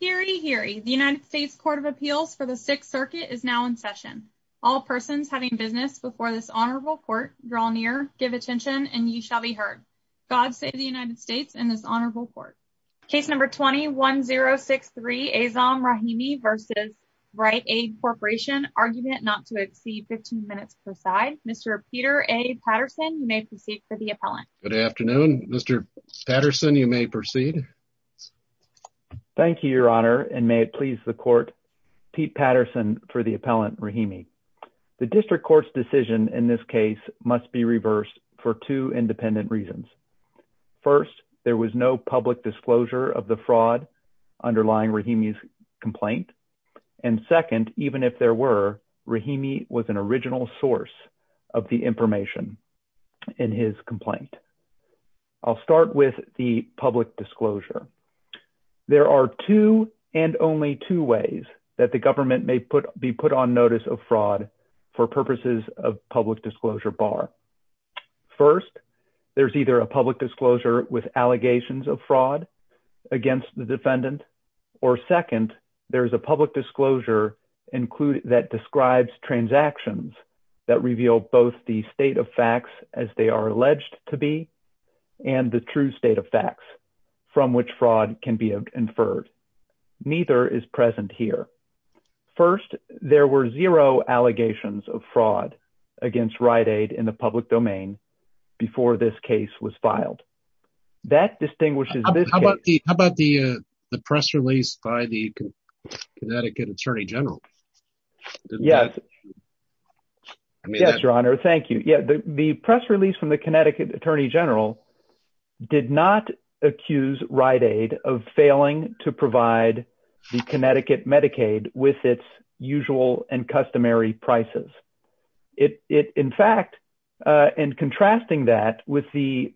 Hear ye, hear ye. The United States Court of Appeals for the Sixth Circuit is now in session. All persons having business before this honorable court draw near, give attention, and ye shall be heard. God save the United States and this honorable court. Case number 20-1063, Azam Rahimi v. Rite Aid Corporation. Argument not to exceed 15 minutes per side. Mr. Peter A. Patterson, you may proceed for the appellant. Good afternoon. Mr. Patterson, you may proceed. Thank you, Your Honor, and may it please the court, Pete Patterson for the appellant Rahimi. The district court's decision in this case must be reversed for two independent reasons. First, there was no public disclosure of the fraud underlying Rahimi's complaint. And second, even if there were, Rahimi was an original source of the information in his complaint. I'll start with the public disclosure. There are two and only two ways that the government may be put on notice of fraud for purposes of public disclosure bar. First, there's either a public disclosure with allegations of fraud against the defendant, or second, there's a public disclosure that describes transactions that reveal both the state of facts as they are alleged to be and the true state of facts from which fraud can be inferred. Neither is present here. First, there were zero allegations of fraud against Rite Aid in the public domain before this case was filed. That distinguishes- How about the press release by the Connecticut Attorney General? Yes. Yes, Your Honor. Thank you. Yeah, the press release from the Connecticut Attorney General did not accuse Rite Aid of failing to provide the Connecticut Medicaid with its usual and customary prices. In fact, in contrasting that with the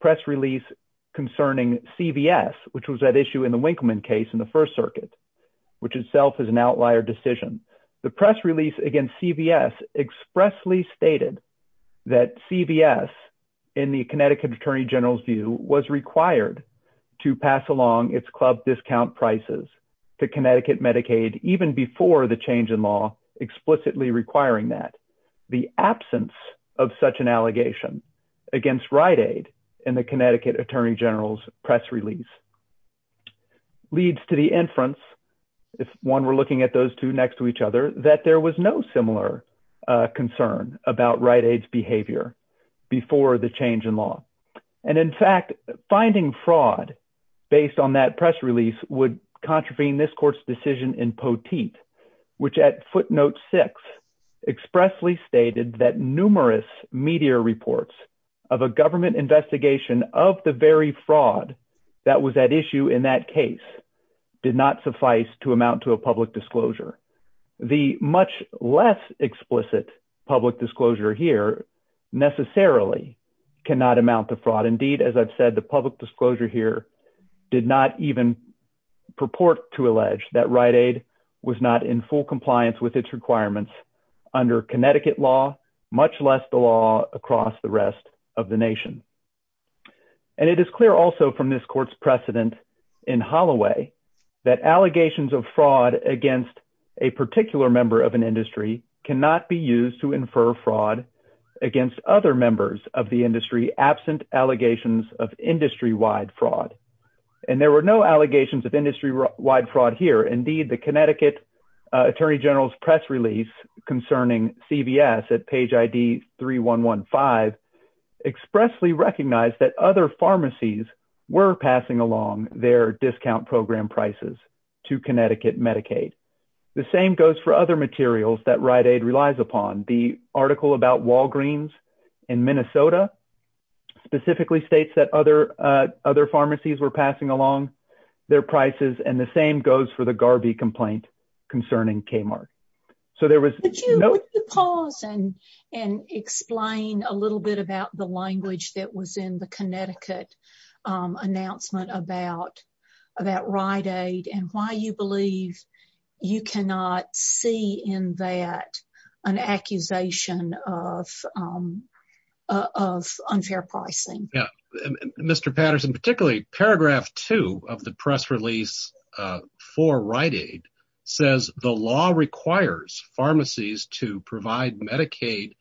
press release concerning CVS, which was issue in the Winkleman case in the First Circuit, which itself is an outlier decision, the press release against CVS expressly stated that CVS, in the Connecticut Attorney General's view, was required to pass along its club discount prices to Connecticut Medicaid even before the change in law explicitly requiring that. The absence of such an allegation against Rite Aid in the Connecticut Attorney General's press release leads to the inference, if one were looking at those two next to each other, that there was no similar concern about Rite Aid's behavior before the change in law. And in fact, finding fraud based on that press release would contravene this court's decision in Poteet, which at footnote six expressly stated that numerous media reports of a government investigation of the very fraud that was at issue in that case did not suffice to amount to a public disclosure. The much less explicit public disclosure here necessarily cannot amount to fraud. Indeed, as I've said, the public disclosure here did not even purport to allege that Rite Aid was not in full compliance with its requirements under Connecticut law, much less the law across the rest of the nation. And it is clear also from this court's precedent in Holloway that allegations of fraud against a particular member of an industry cannot be used to infer fraud against other members of the industry absent allegations of industry-wide fraud. And there were no allegations of industry-wide fraud here. Indeed, the Connecticut Attorney General's press release concerning CVS at page ID 3115 expressly recognized that other pharmacies were passing along their discount program prices to Connecticut Medicaid. The same goes for other materials that Rite Aid relies upon. The article about Walgreens in Minnesota specifically states that other pharmacies were passing along their prices. And the same goes for the Garvey complaint concerning Kmart. So there was... Could you pause and explain a little bit about the language that was in the Connecticut announcement about Rite Aid and why you believe you cannot see in that an accusation of the press release for Rite Aid says the law requires pharmacies to provide Medicaid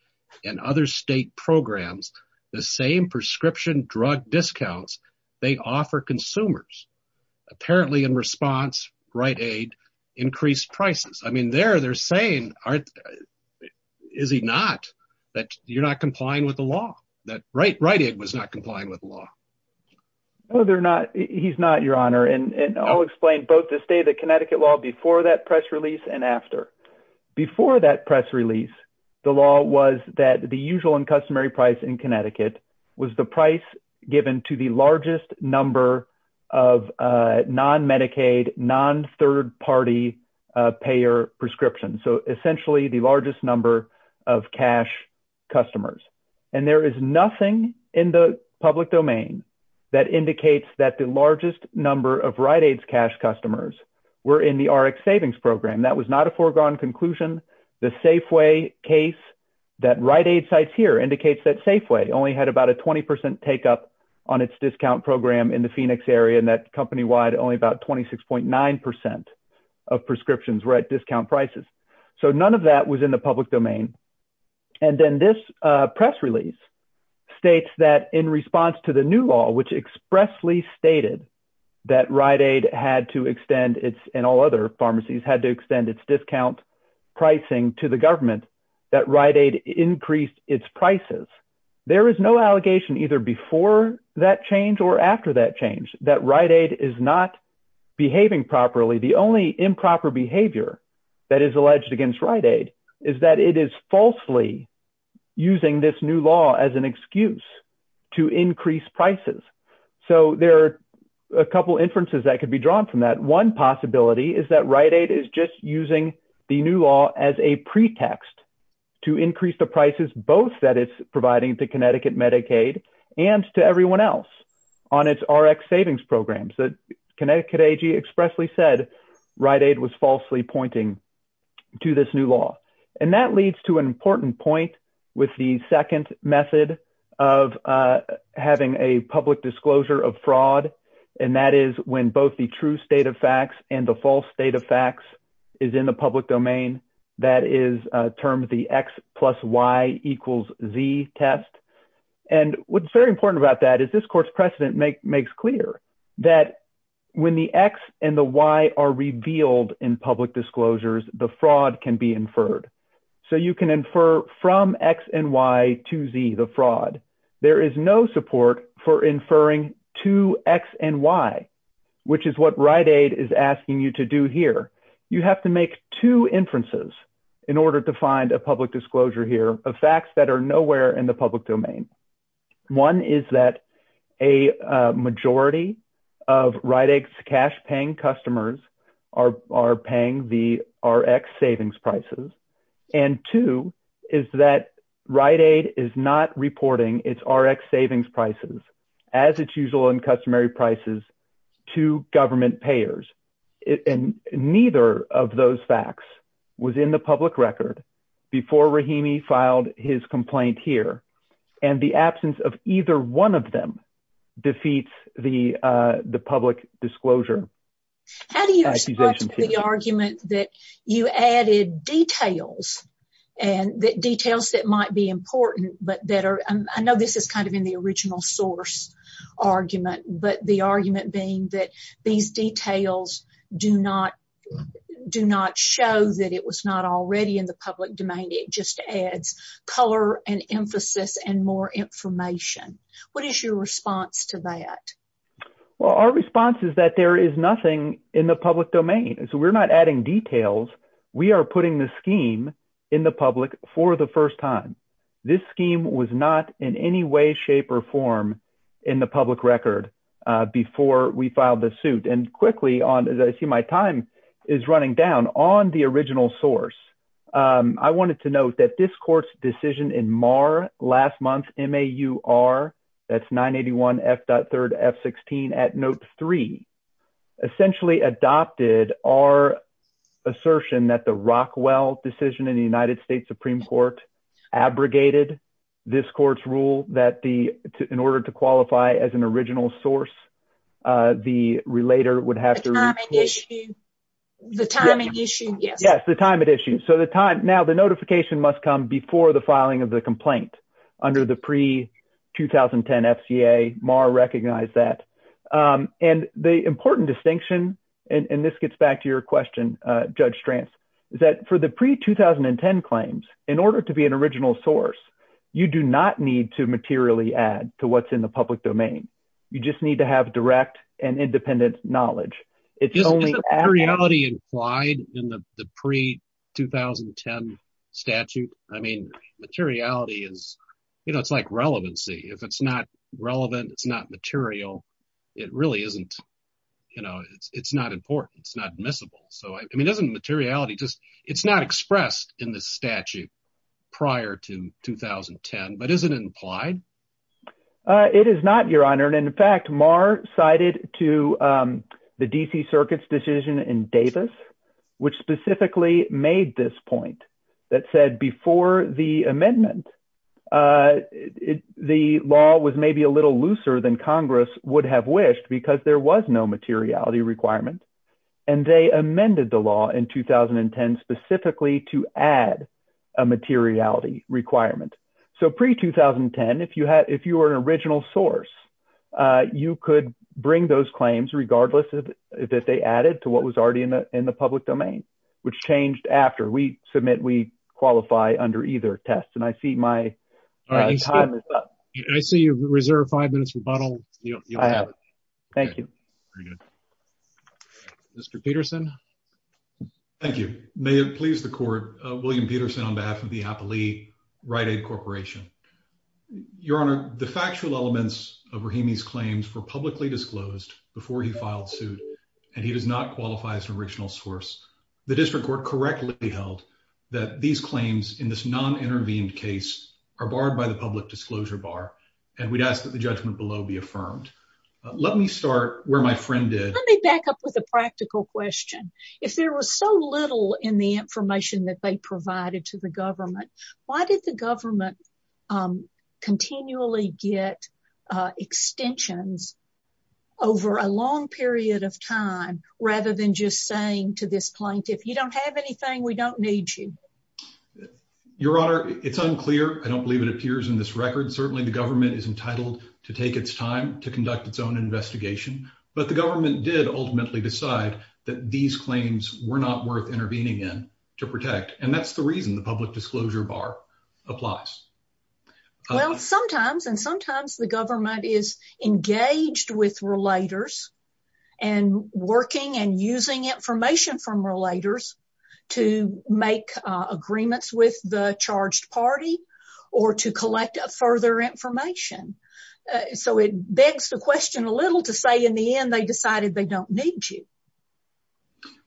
and other state programs the same prescription drug discounts they offer consumers. Apparently in response, Rite Aid increased prices. I mean, there they're saying, is he not? That you're not complying with the law. That Rite Aid was not complying with the law. No, they're not. He's not, Your Honor. And I'll explain both this day, the Connecticut law before that press release and after. Before that press release, the law was that the usual and customary price in Connecticut was the price given to the largest number of non-Medicaid, non-third-party payer prescriptions. So essentially the largest number of cash customers. And there is nothing in the public domain that indicates that the largest number of Rite Aid's cash customers were in the RX Savings Program. That was not a foregone conclusion. The Safeway case that Rite Aid sites here indicates that Safeway only had about a 20% take up on its discount program in the Phoenix area and that company-wide only about 26.9% of prescriptions were at discount prices. So none of that was in the public domain. And then this press release states that in response to the new law, which expressly stated that Rite Aid had to extend its, and all other pharmacies had to extend its discount pricing to the government, that Rite Aid increased its prices. There is no allegation either before that change or after that change that Rite Aid is not behaving properly. The only improper behavior that is alleged against Rite Aid is that it is falsely using this new law as an excuse to increase prices. So there are a couple inferences that could be drawn from that. One possibility is that Rite Aid is just using the new law as a pretext to increase the prices, both that it's providing to Connecticut Medicaid and to everyone else on its RX savings programs that Connecticut AG expressly said Rite Aid was falsely pointing to this new law. And that leads to an important point with the second method of having a public disclosure of fraud. And that is when both the true state of facts and the false state of facts is in the public domain, that is termed the X plus Y equals Z test. And what's very important about that is this court's precedent makes clear that when the X and the Y are revealed in public disclosures, the fraud can be inferred. So you can infer from X and Y to Z, the fraud. There is no support for inferring to X and Y, which is what Rite Aid is asking you to do here. You have to make two inferences in order to find a public disclosure here of facts that are nowhere in public domain. One is that a majority of Rite Aid's cash paying customers are paying the RX savings prices. And two is that Rite Aid is not reporting its RX savings prices as its usual and customary prices to government payers. And neither of those facts was in the public record before Rahimi filed his complaint here. And the absence of either one of them defeats the public disclosure. How do you respond to the argument that you added details that might be important, but that are, I know this is kind of in the original source argument, but the argument being these details do not show that it was not already in the public domain. It just adds color and emphasis and more information. What is your response to that? Well, our response is that there is nothing in the public domain. So we're not adding details. We are putting the scheme in the public for the first time. This scheme was not in any way, shape or form in the public record before we filed the suit. And quickly, as I see my time is running down, on the original source, I wanted to note that this court's decision in MAR last month, M-A-U-R, that's 981 F.3 F-16 at note three, essentially adopted our assertion that the Rockwell decision in the United States Supreme Court abrogated this court's rule that the, in order to qualify as an original source, the relator would have to. Yes, the time it issued. So the time now the notification must come before the filing of the complaint under the pre-2010 FCA, MAR recognized that. And the important distinction, and this gets back to your question, Judge Stranz, is that for the pre-2010 claims, in order to be an original source, you do not need to materially add to what's in the public domain. You just need to have direct and independent knowledge. It's only- Isn't materiality implied in the pre-2010 statute? I mean, materiality is, you know, it's like relevancy. If it's not relevant, it's not material. It really isn't, you know, it's not important. It's not admissible. So, I mean, doesn't materiality just, it's not expressed in the statute prior to 2010, but isn't it implied? It is not, Your Honor. And in fact, MAR cited to the DC Circuit's decision in Davis, which specifically made this point that said before the amendment, the law was maybe a little material, but there was no materiality requirement. And they amended the law in 2010 specifically to add a materiality requirement. So, pre-2010, if you were an original source, you could bring those claims regardless that they added to what was already in the public domain, which changed after we submit, we qualify under either test. And I see my time is up. I see you reserve five minutes to buttle. Thank you. Mr. Peterson. Thank you. May it please the court, William Peterson on behalf of the Applee Rite Aid Corporation. Your Honor, the factual elements of Rahimi's claims were publicly disclosed before he filed suit, and he does not qualify as an original source. The district court correctly held that these claims in this non-intervened case are barred by the public disclosure bar. And we'd ask that the judgment below be affirmed. Let me start where my friend did. Let me back up with a practical question. If there was so little in the information that they provided to the government, why did the government continually get extensions over a long period of time, rather than just saying to this plaintiff, you don't have anything, we don't need you? Your Honor, it's unclear. I don't believe it appears in this record. Certainly, the government is entitled to take its time to conduct its own investigation. But the government did ultimately decide that these claims were not worth intervening in to protect. And that's the reason the public disclosure bar applies. Well, sometimes and sometimes the government is engaged with relators and working and using information from relators to make agreements with the charged party or to collect further information. So it begs the question a little to say in the end, they decided they don't need you.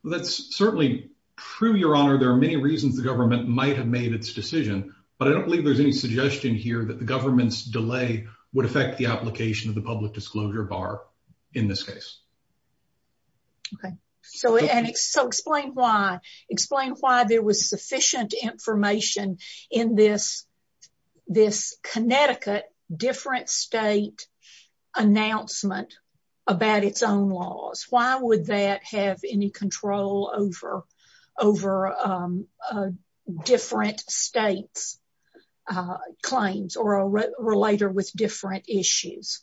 Well, that's certainly true, Your Honor. There are many reasons the government might have made its decision. But I don't believe there's any suggestion here that government's delay would affect the application of the public disclosure bar in this case. Okay. So explain why there was sufficient information in this Connecticut different state announcement about its own laws. Why would that have any control over a different state's claims or a relator with different issues?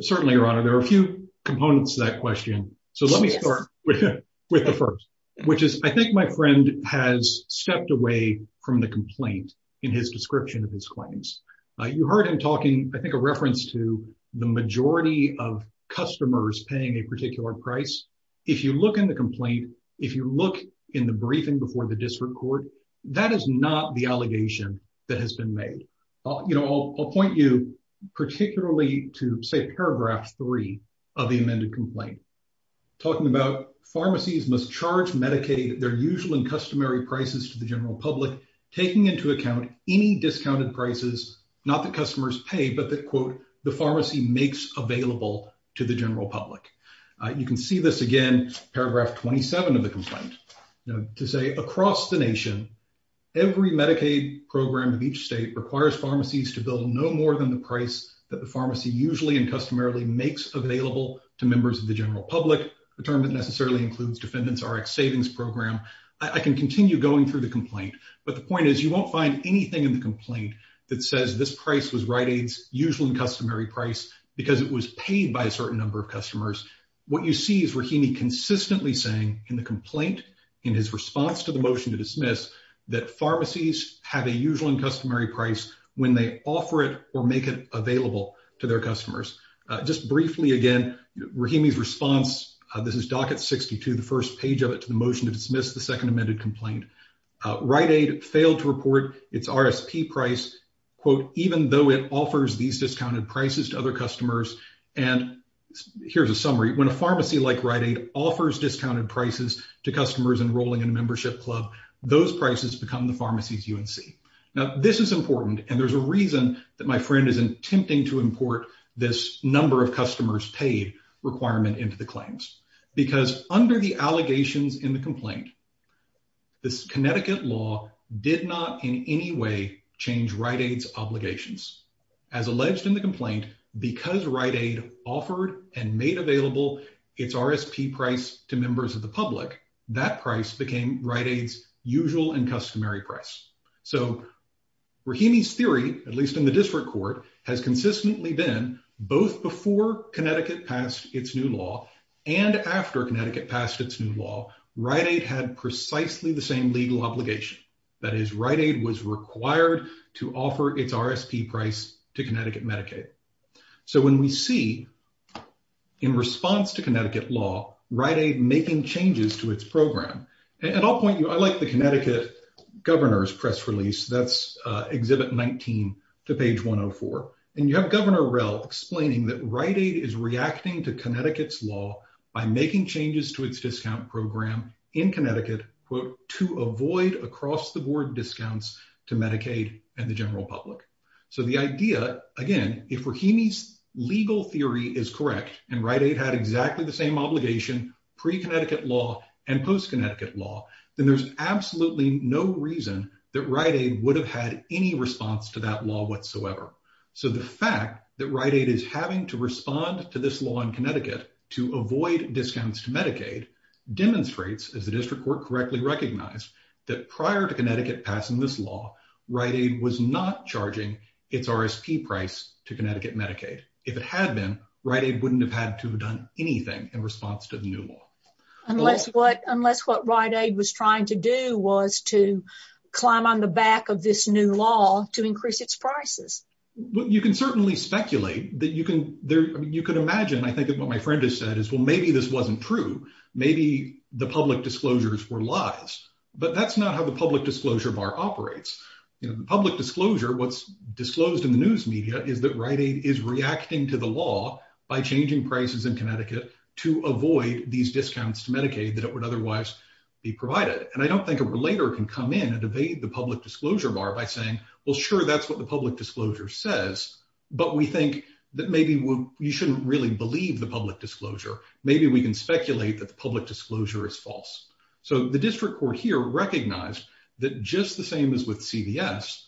Certainly, Your Honor, there are a few components to that question. So let me start with the first, which is I think my friend has stepped away from the complaint in his description of his claims. You heard him talking, I think a reference to the majority of customers paying a particular price. If you look in the briefing before the district court, that is not the allegation that has been made. I'll point you particularly to say paragraph three of the amended complaint, talking about pharmacies must charge Medicaid their usual and customary prices to the general public, taking into account any discounted prices, not the customers pay, but that quote, the pharmacy makes available to the general public. You can see this again, paragraph 27 of the complaint to say across the nation, every Medicaid program of each state requires pharmacies to build no more than the price that the pharmacy usually and customarily makes available to members of the general public. The term that necessarily includes defendants, RX savings program. I can continue going through the complaint, but the point is you won't find anything in the complaint that says this price was Rite What you see is Rahimi consistently saying in the complaint, in his response to the motion to dismiss that pharmacies have a usual and customary price when they offer it or make it available to their customers. Just briefly again, Rahimi's response, this is docket 62, the first page of it to the motion to dismiss the second amended complaint. Rite Aid failed to report its RSP price quote, even though it offers these discounted prices to other customers. And here's a summary. When a pharmacy like Rite Aid offers discounted prices to customers enrolling in a membership club, those prices become the pharmacies, UNC. Now this is important. And there's a reason that my friend is attempting to import this number of customers paid requirement into the claims because under the allegations in the complaint, this Connecticut law did not in any way change Rite Aid's obligations. As alleged in the complaint, because Rite Aid offered and made available its RSP price to members of the public, that price became Rite Aid's usual and customary price. So Rahimi's theory, at least in the district court, has consistently been both before Connecticut passed its new law and after Connecticut passed its new law, Rite Aid had precisely the same legal obligation. That is Rite Aid was required to offer its RSP price to Connecticut Medicaid. So when we see in response to Connecticut law, Rite Aid making changes to its program, and I'll point you, I like the Connecticut governor's press release, that's exhibit 19 to page 104. And you have governor Rell explaining that Rite Aid is reacting to Connecticut's law by making changes to its discount program in Connecticut, quote, to avoid across the board discounts to Medicaid and the general public. So the idea, again, if Rahimi's legal theory is correct, and Rite Aid had exactly the same obligation, pre-Connecticut law and post-Connecticut law, then there's absolutely no reason that Rite Aid would have had any response to that law whatsoever. So the fact that Rite Aid is having to respond to this law in Connecticut to avoid discounts to Medicaid demonstrates, as the district court correctly recognized, that prior to Connecticut passing this law, Rite Aid was not charging its RSP price to Connecticut Medicaid. If it had been, Rite Aid wouldn't have had to have done anything in response to the new law. Unless what, unless what Rite Aid was trying to do was to climb on the back of this new law to increase its prices. Well, you can certainly speculate that you can there, you could imagine, I think, what my friend has said is, well, maybe this wasn't true. Maybe the public disclosures were lies, but that's not how the public disclosure bar operates. You know, the public disclosure, what's disclosed in the news media is that Rite Aid is reacting to the law by changing prices in Connecticut to avoid these discounts to Medicaid that it would otherwise be provided. And I don't think a relator can come in and evade the public disclosure bar by saying, well, sure, that's what the public disclosure says. But we think that maybe you shouldn't really believe the public disclosure. Maybe we can speculate that the public disclosure is false. So the district court here recognized that just the same as with CVS,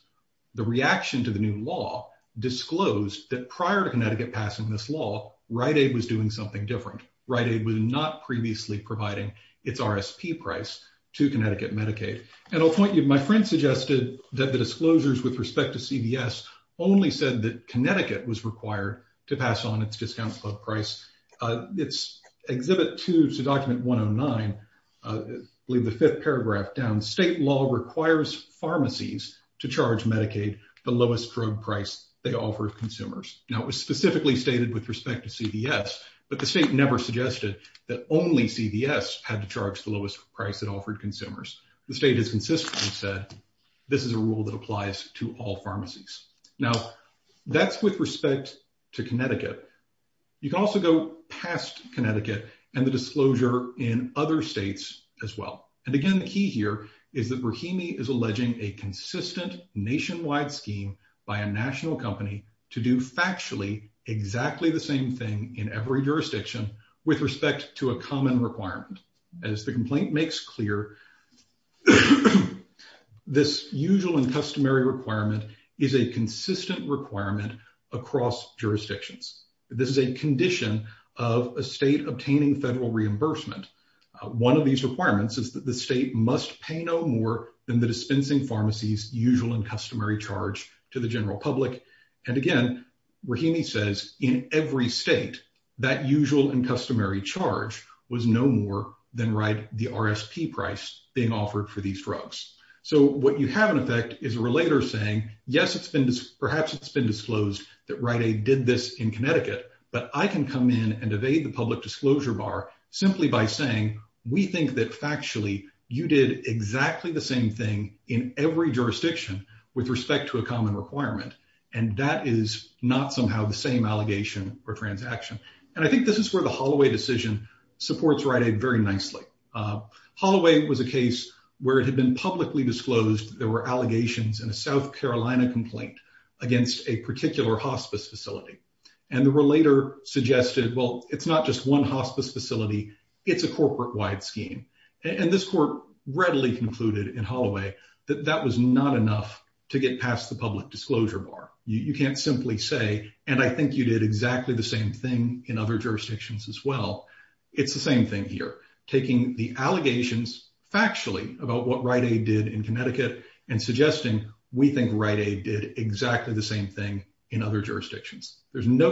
the reaction to the new law disclosed that prior to Connecticut passing this law, Rite Aid was doing something different. Rite Aid was not previously providing its RSP price to Connecticut Medicaid. And I'll point you, my friend suggested that the disclosures with respect to CVS only said that Connecticut was required to pass on its discount club price. It's exhibit two to document 109, believe the fifth paragraph down, state law requires pharmacies to charge Medicaid the offered consumers. Now it was specifically stated with respect to CVS, but the state never suggested that only CVS had to charge the lowest price that offered consumers. The state has consistently said this is a rule that applies to all pharmacies. Now that's with respect to Connecticut. You can also go past Connecticut and the disclosure in other states as well. And again, the key here is that Rahimi is alleging a consistent nationwide scheme by a national company to do factually exactly the same thing in every jurisdiction with respect to a common requirement. As the complaint makes clear, this usual and customary requirement is a consistent requirement across jurisdictions. This is a condition of a state obtaining federal reimbursement. One of these requirements is that the state must pay no more than the dispensing pharmacies, usual and customary charge to the general public. And again, Rahimi says in every state, that usual and customary charge was no more than right, the RSP price being offered for these drugs. So what you have in effect is a relator saying, yes, it's been perhaps it's been disclosed that Rite Aid did this in Connecticut, but I can come in and evade the public disclosure bar simply by saying, we think that factually you did exactly the same thing in every jurisdiction with respect to a common requirement. And that is not somehow the same allegation or transaction. And I think this is where the Holloway decision supports Rite Aid very nicely. Holloway was a case where it had been publicly disclosed there were allegations in a South Carolina complaint against a particular hospice facility. And the relator suggested, well, it's not just one hospice facility. It's a corporate wide scheme. And this court readily concluded in Holloway that that was not enough to get past the public disclosure bar. You can't simply say, and I think you did exactly the same thing in other jurisdictions as well. It's the same thing here, taking the allegations factually about what Rite Aid did in Connecticut and suggesting we think Rite Aid did exactly the same thing in other jurisdictions. There's no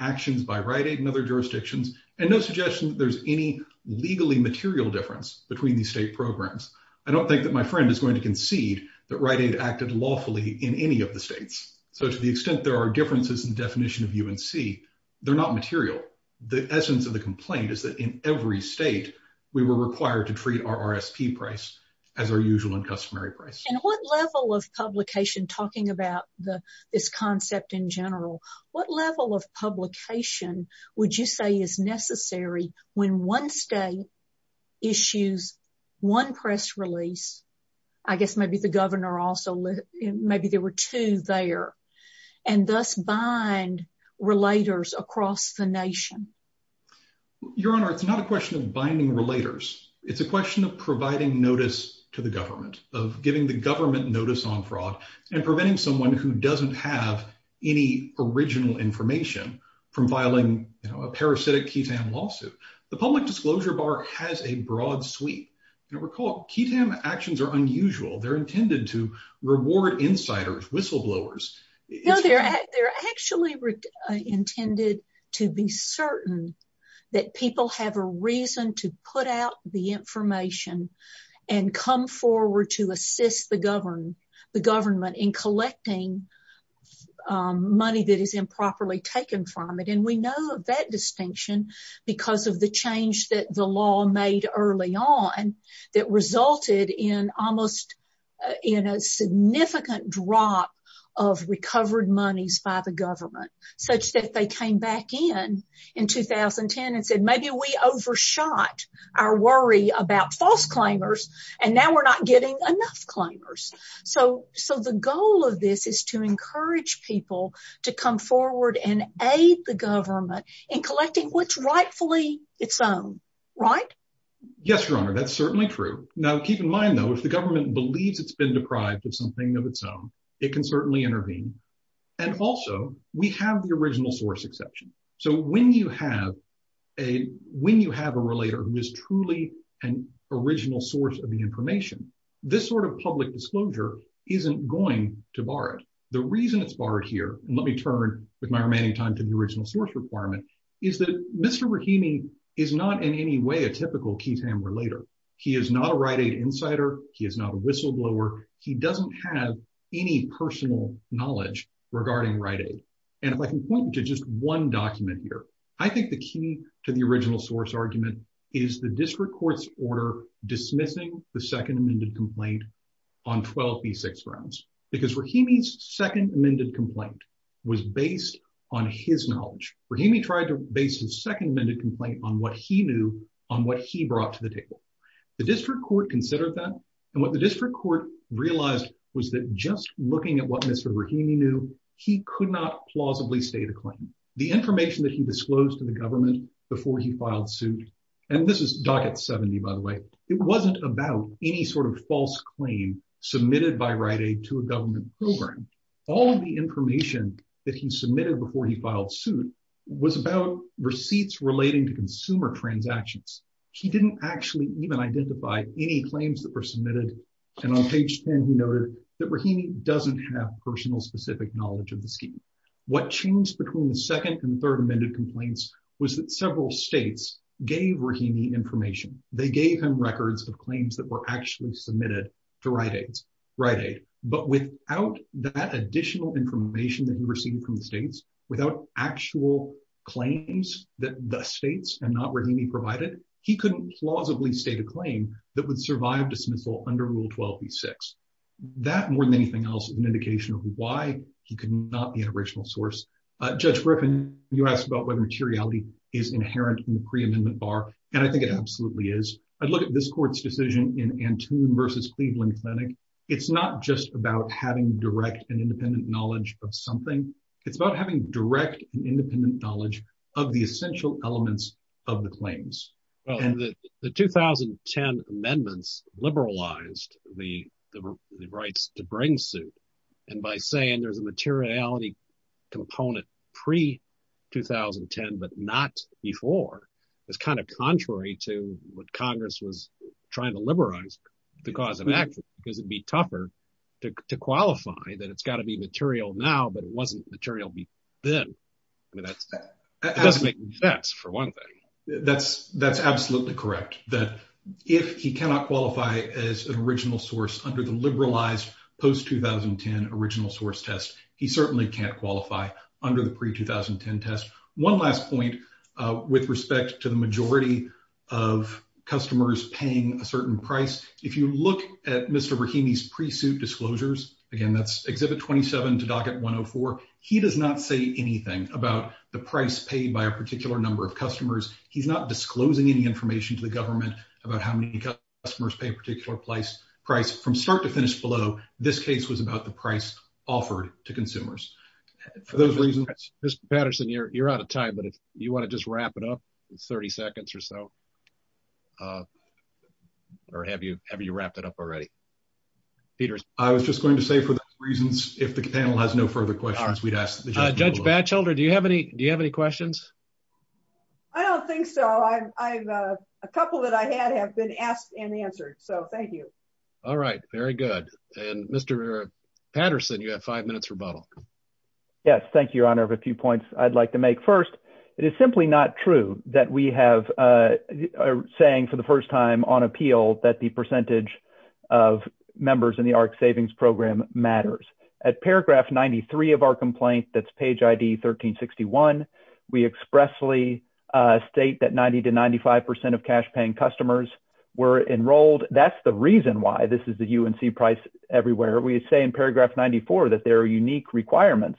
actions by Rite Aid in other jurisdictions and no suggestion that there's any legally material difference between these state programs. I don't think that my friend is going to concede that Rite Aid acted lawfully in any of the states. So to the extent there are differences in the definition of UNC, they're not material. The essence of the complaint is that in every state, we were required to treat our RSP price as our usual and customary price. What level of publication, talking about this concept in general, what level of publication would you say is necessary when one state issues one press release? I guess maybe the governor also, maybe there were two there, and thus bind relators across the nation? Your Honor, it's not a question of binding relators. It's a question of providing notice to the government, of giving the government notice on fraud and preventing someone who doesn't have any original information from filing a parasitic KETAM lawsuit. The public disclosure bar has a broad sweep. And recall, KETAM actions are unusual. They're intended to reward insiders, whistleblowers. No, they're actually intended to be certain that people have a reason to put out the information and come forward to assist the government in collecting money that is improperly taken from it. And we know that distinction because of the change that the law made early on that resulted in almost, in a significant drop of recovered monies by the false claimers, and now we're not getting enough claimers. So the goal of this is to encourage people to come forward and aid the government in collecting what's rightfully its own, right? Yes, Your Honor, that's certainly true. Now, keep in mind, though, if the government believes it's been deprived of something of its own, it can certainly intervene. And also, we have the an original source of the information. This sort of public disclosure isn't going to bar it. The reason it's barred here, and let me turn with my remaining time to the original source requirement, is that Mr. Rahimi is not in any way a typical KETAM relater. He is not a Rite Aid insider. He is not a whistleblower. He doesn't have any personal knowledge regarding Rite Aid. And if I can point to just one document here, I think the key to the original source argument is the district court's order dismissing the second amended complaint on 12b6 grounds, because Rahimi's second amended complaint was based on his knowledge. Rahimi tried to base his second amended complaint on what he knew on what he brought to the table. The district court considered that, and what the district court realized was that just looking at what Mr. Rahimi knew, he could not plausibly state a claim. The information that he disclosed to the government before he filed suit, and this is docket 70 by the way, it wasn't about any sort of false claim submitted by Rite Aid to a government program. All of the information that he submitted before he filed suit was about receipts relating to consumer transactions. He didn't actually even identify any claims that were submitted, and on page 10 he noted that Rahimi doesn't have personal specific knowledge of the scheme. What changed between the second and third amended complaints was that several states gave Rahimi information. They gave him records of claims that were actually submitted to Rite Aid, but without that additional information that he received from the states, without actual claims that the states and not Rahimi provided, he couldn't plausibly state a claim that would survive dismissal under Rule 12b6. That more than anything else is an indication of why he could not be an original source. Judge Griffin, you asked about whether materiality is inherent in the pre-amendment bar, and I think it absolutely is. I'd look at this court's decision in Antoon versus Cleveland Clinic. It's not just about having direct and independent knowledge of something. It's about having direct and independent knowledge of the essential elements of the claims. The 2010 amendments liberalized the rights to bring suit, and by saying there's a materiality component pre-2010 but not before, is kind of contrary to what Congress was trying to liberalize the cause of action, because it'd be tougher to qualify that it's got to be material now, but it wasn't material before then. I mean, that doesn't make any sense, for one thing. That's absolutely correct, that if he cannot qualify as an original source under the liberalized post-2010 original source test, he certainly can't qualify under the pre-2010 test. One last point with respect to the majority of customers paying a certain price, if you look at Mr. Rahimi's 104, he does not say anything about the price paid by a particular number of customers. He's not disclosing any information to the government about how many customers pay a particular price. From start to finish below, this case was about the price offered to consumers. For those reasons... Mr. Patterson, you're out of time, but if you want to just wrap it up, it's 30 seconds or so. Or have you have you wrapped it up already? Peter? I was just going to say, for those reasons, if the panel has no further questions, we'd ask the judge. Judge Batchelder, do you have any questions? I don't think so. A couple that I had have been asked and answered, so thank you. All right, very good. And Mr. Patterson, you have five minutes rebuttal. Yes, thank you, Your Honor, for a few points I'd like to make. First, it is simply not true that we are saying for the first time on appeal that the percentage of members in the ARC Savings Program matters. At paragraph 93 of our complaint, that's page ID 1361, we expressly state that 90 to 95 percent of cash-paying customers were enrolled. That's the reason why this is the UNC price everywhere. We say in paragraph 94 that there are unique requirements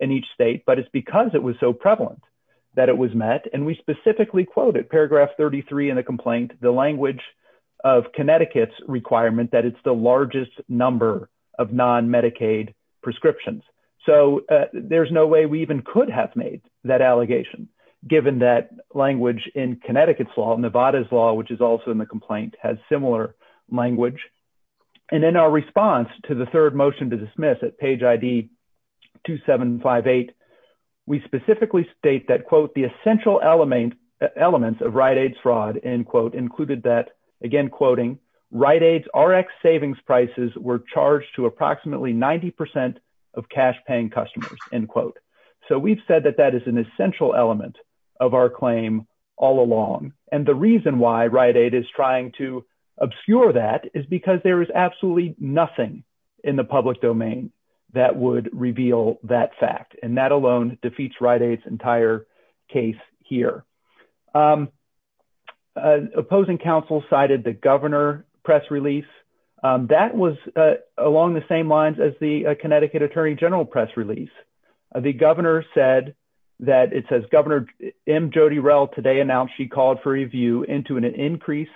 in each state, but it's because it was so prevalent that it was met, and we specifically quoted paragraph 33 in the complaint, the language of Connecticut's requirement that it's the largest number of non-Medicaid prescriptions. So there's no way we even could have made that allegation, given that language in Connecticut's law, Nevada's law, which is also in the complaint, has similar language. And in our response to the third motion to dismiss at page ID 2758, we specifically state that, quote, the essential elements of Rite Aid's fraud, end quote, included that, again, quoting, Rite Aid's RX savings prices were charged to approximately 90 percent of cash-paying customers, end quote. So we've said that that is an essential element of our claim all along. And the reason why obscure that is because there is absolutely nothing in the public domain that would reveal that fact, and that alone defeats Rite Aid's entire case here. Opposing counsel cited the governor press release. That was along the same lines as the Connecticut Attorney General press release. The governor said that, it says, Governor M. Jody Rell today announced she called for review into an increase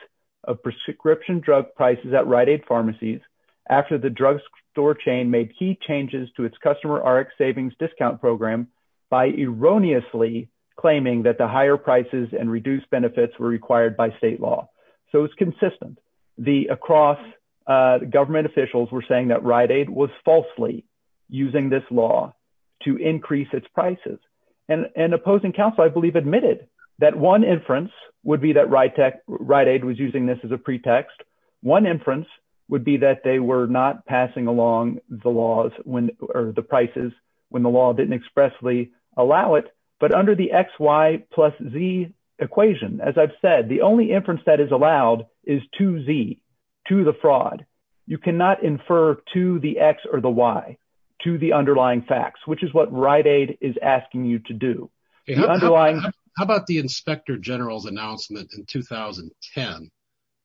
of prescription drug prices at Rite Aid pharmacies after the drug store chain made key changes to its customer RX savings discount program by erroneously claiming that the higher prices and reduced benefits were required by state law. So it's consistent. The across government officials were saying that Rite Aid was falsely using this law to increase its Rite Aid was using this as a pretext. One inference would be that they were not passing along the laws or the prices when the law didn't expressly allow it. But under the X, Y, plus Z equation, as I've said, the only inference that is allowed is to Z, to the fraud. You cannot infer to the X or the Y, to the underlying facts, which is what Rite Aid is asking you to do. How about the inspector general's announcement in 2010,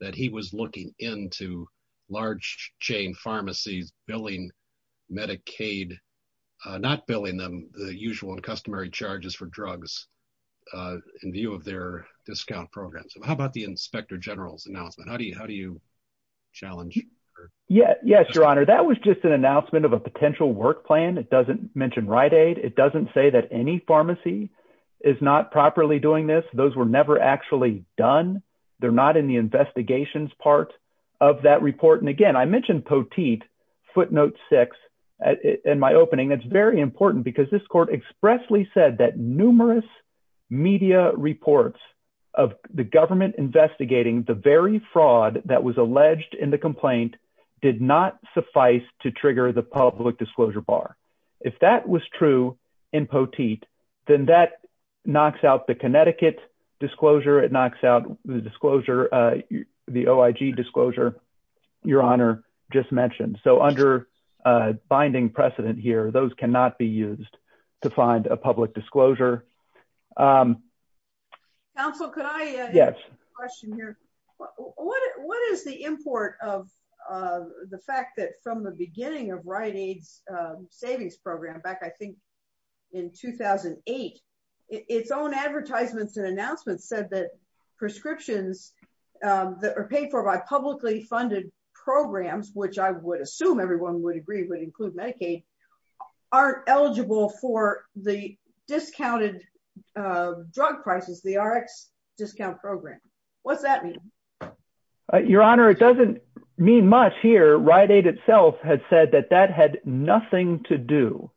that he was looking into large chain pharmacies billing Medicaid, not billing them the usual and customary charges for drugs in view of their discount program. So how about the inspector general's announcement? How do you challenge? Yes, Your Honor, that was just an announcement of a potential work plan. It mentioned Rite Aid. It doesn't say that any pharmacy is not properly doing this. Those were never actually done. They're not in the investigations part of that report. And again, I mentioned Poteet footnote six in my opening. That's very important because this court expressly said that numerous media reports of the government investigating the very fraud that was alleged in the complaint did not suffice to trigger the public disclosure bar. If that was true in Poteet, then that knocks out the Connecticut disclosure. It knocks out the disclosure, the OIG disclosure, Your Honor just mentioned. So under binding precedent here, those cannot be used to find a public disclosure. Counsel, could I ask a question here? What is the import of the fact that from the beginning of Rite Aid's savings program back, I think, in 2008, its own advertisements and announcements said that prescriptions that are paid for by publicly funded programs, which I would assume everyone would agree would include Medicaid, aren't eligible for the discounted drug prices, the Rx discount program. What's that mean? Your Honor, it doesn't mean much here. Rite Aid itself had said that that had nothing to do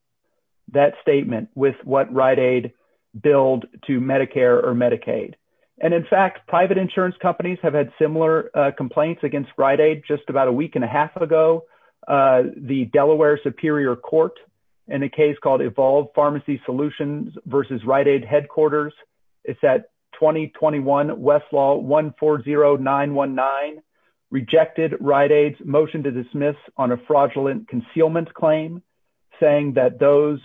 that statement with what Rite Aid billed to Medicare or Medicaid. And in fact, private insurance companies have had similar complaints against Rite Aid just about a week and a half ago. The Delaware Superior Court in a case called Evolve Pharmacy Solutions versus Rite Aid Headquarters, it's that 2021 Westlaw 140919 rejected Rite Aid's motion to dismiss on a fraudulent concealment claim, saying that those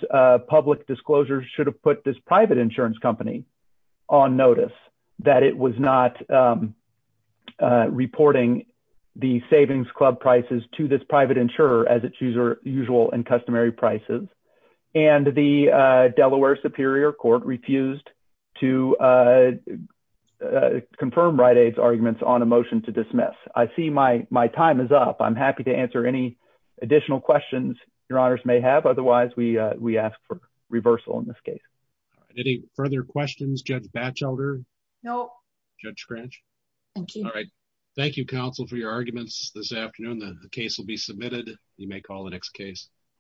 public disclosures should have put this private insurance company on notice, that it was not reporting the savings club prices to this private insurer as its usual and customary prices. And the Delaware Superior Court refused to confirm Rite Aid's arguments on a motion to dismiss. I see my time is up. I'm happy to answer any additional questions your honors may have. Otherwise, we ask for reversal in this case. Any further questions, Judge Batchelder? No. Judge Scranch? Thank you. All right. Thank you, counsel, for your arguments this afternoon. The case will be submitted. You may call the next case.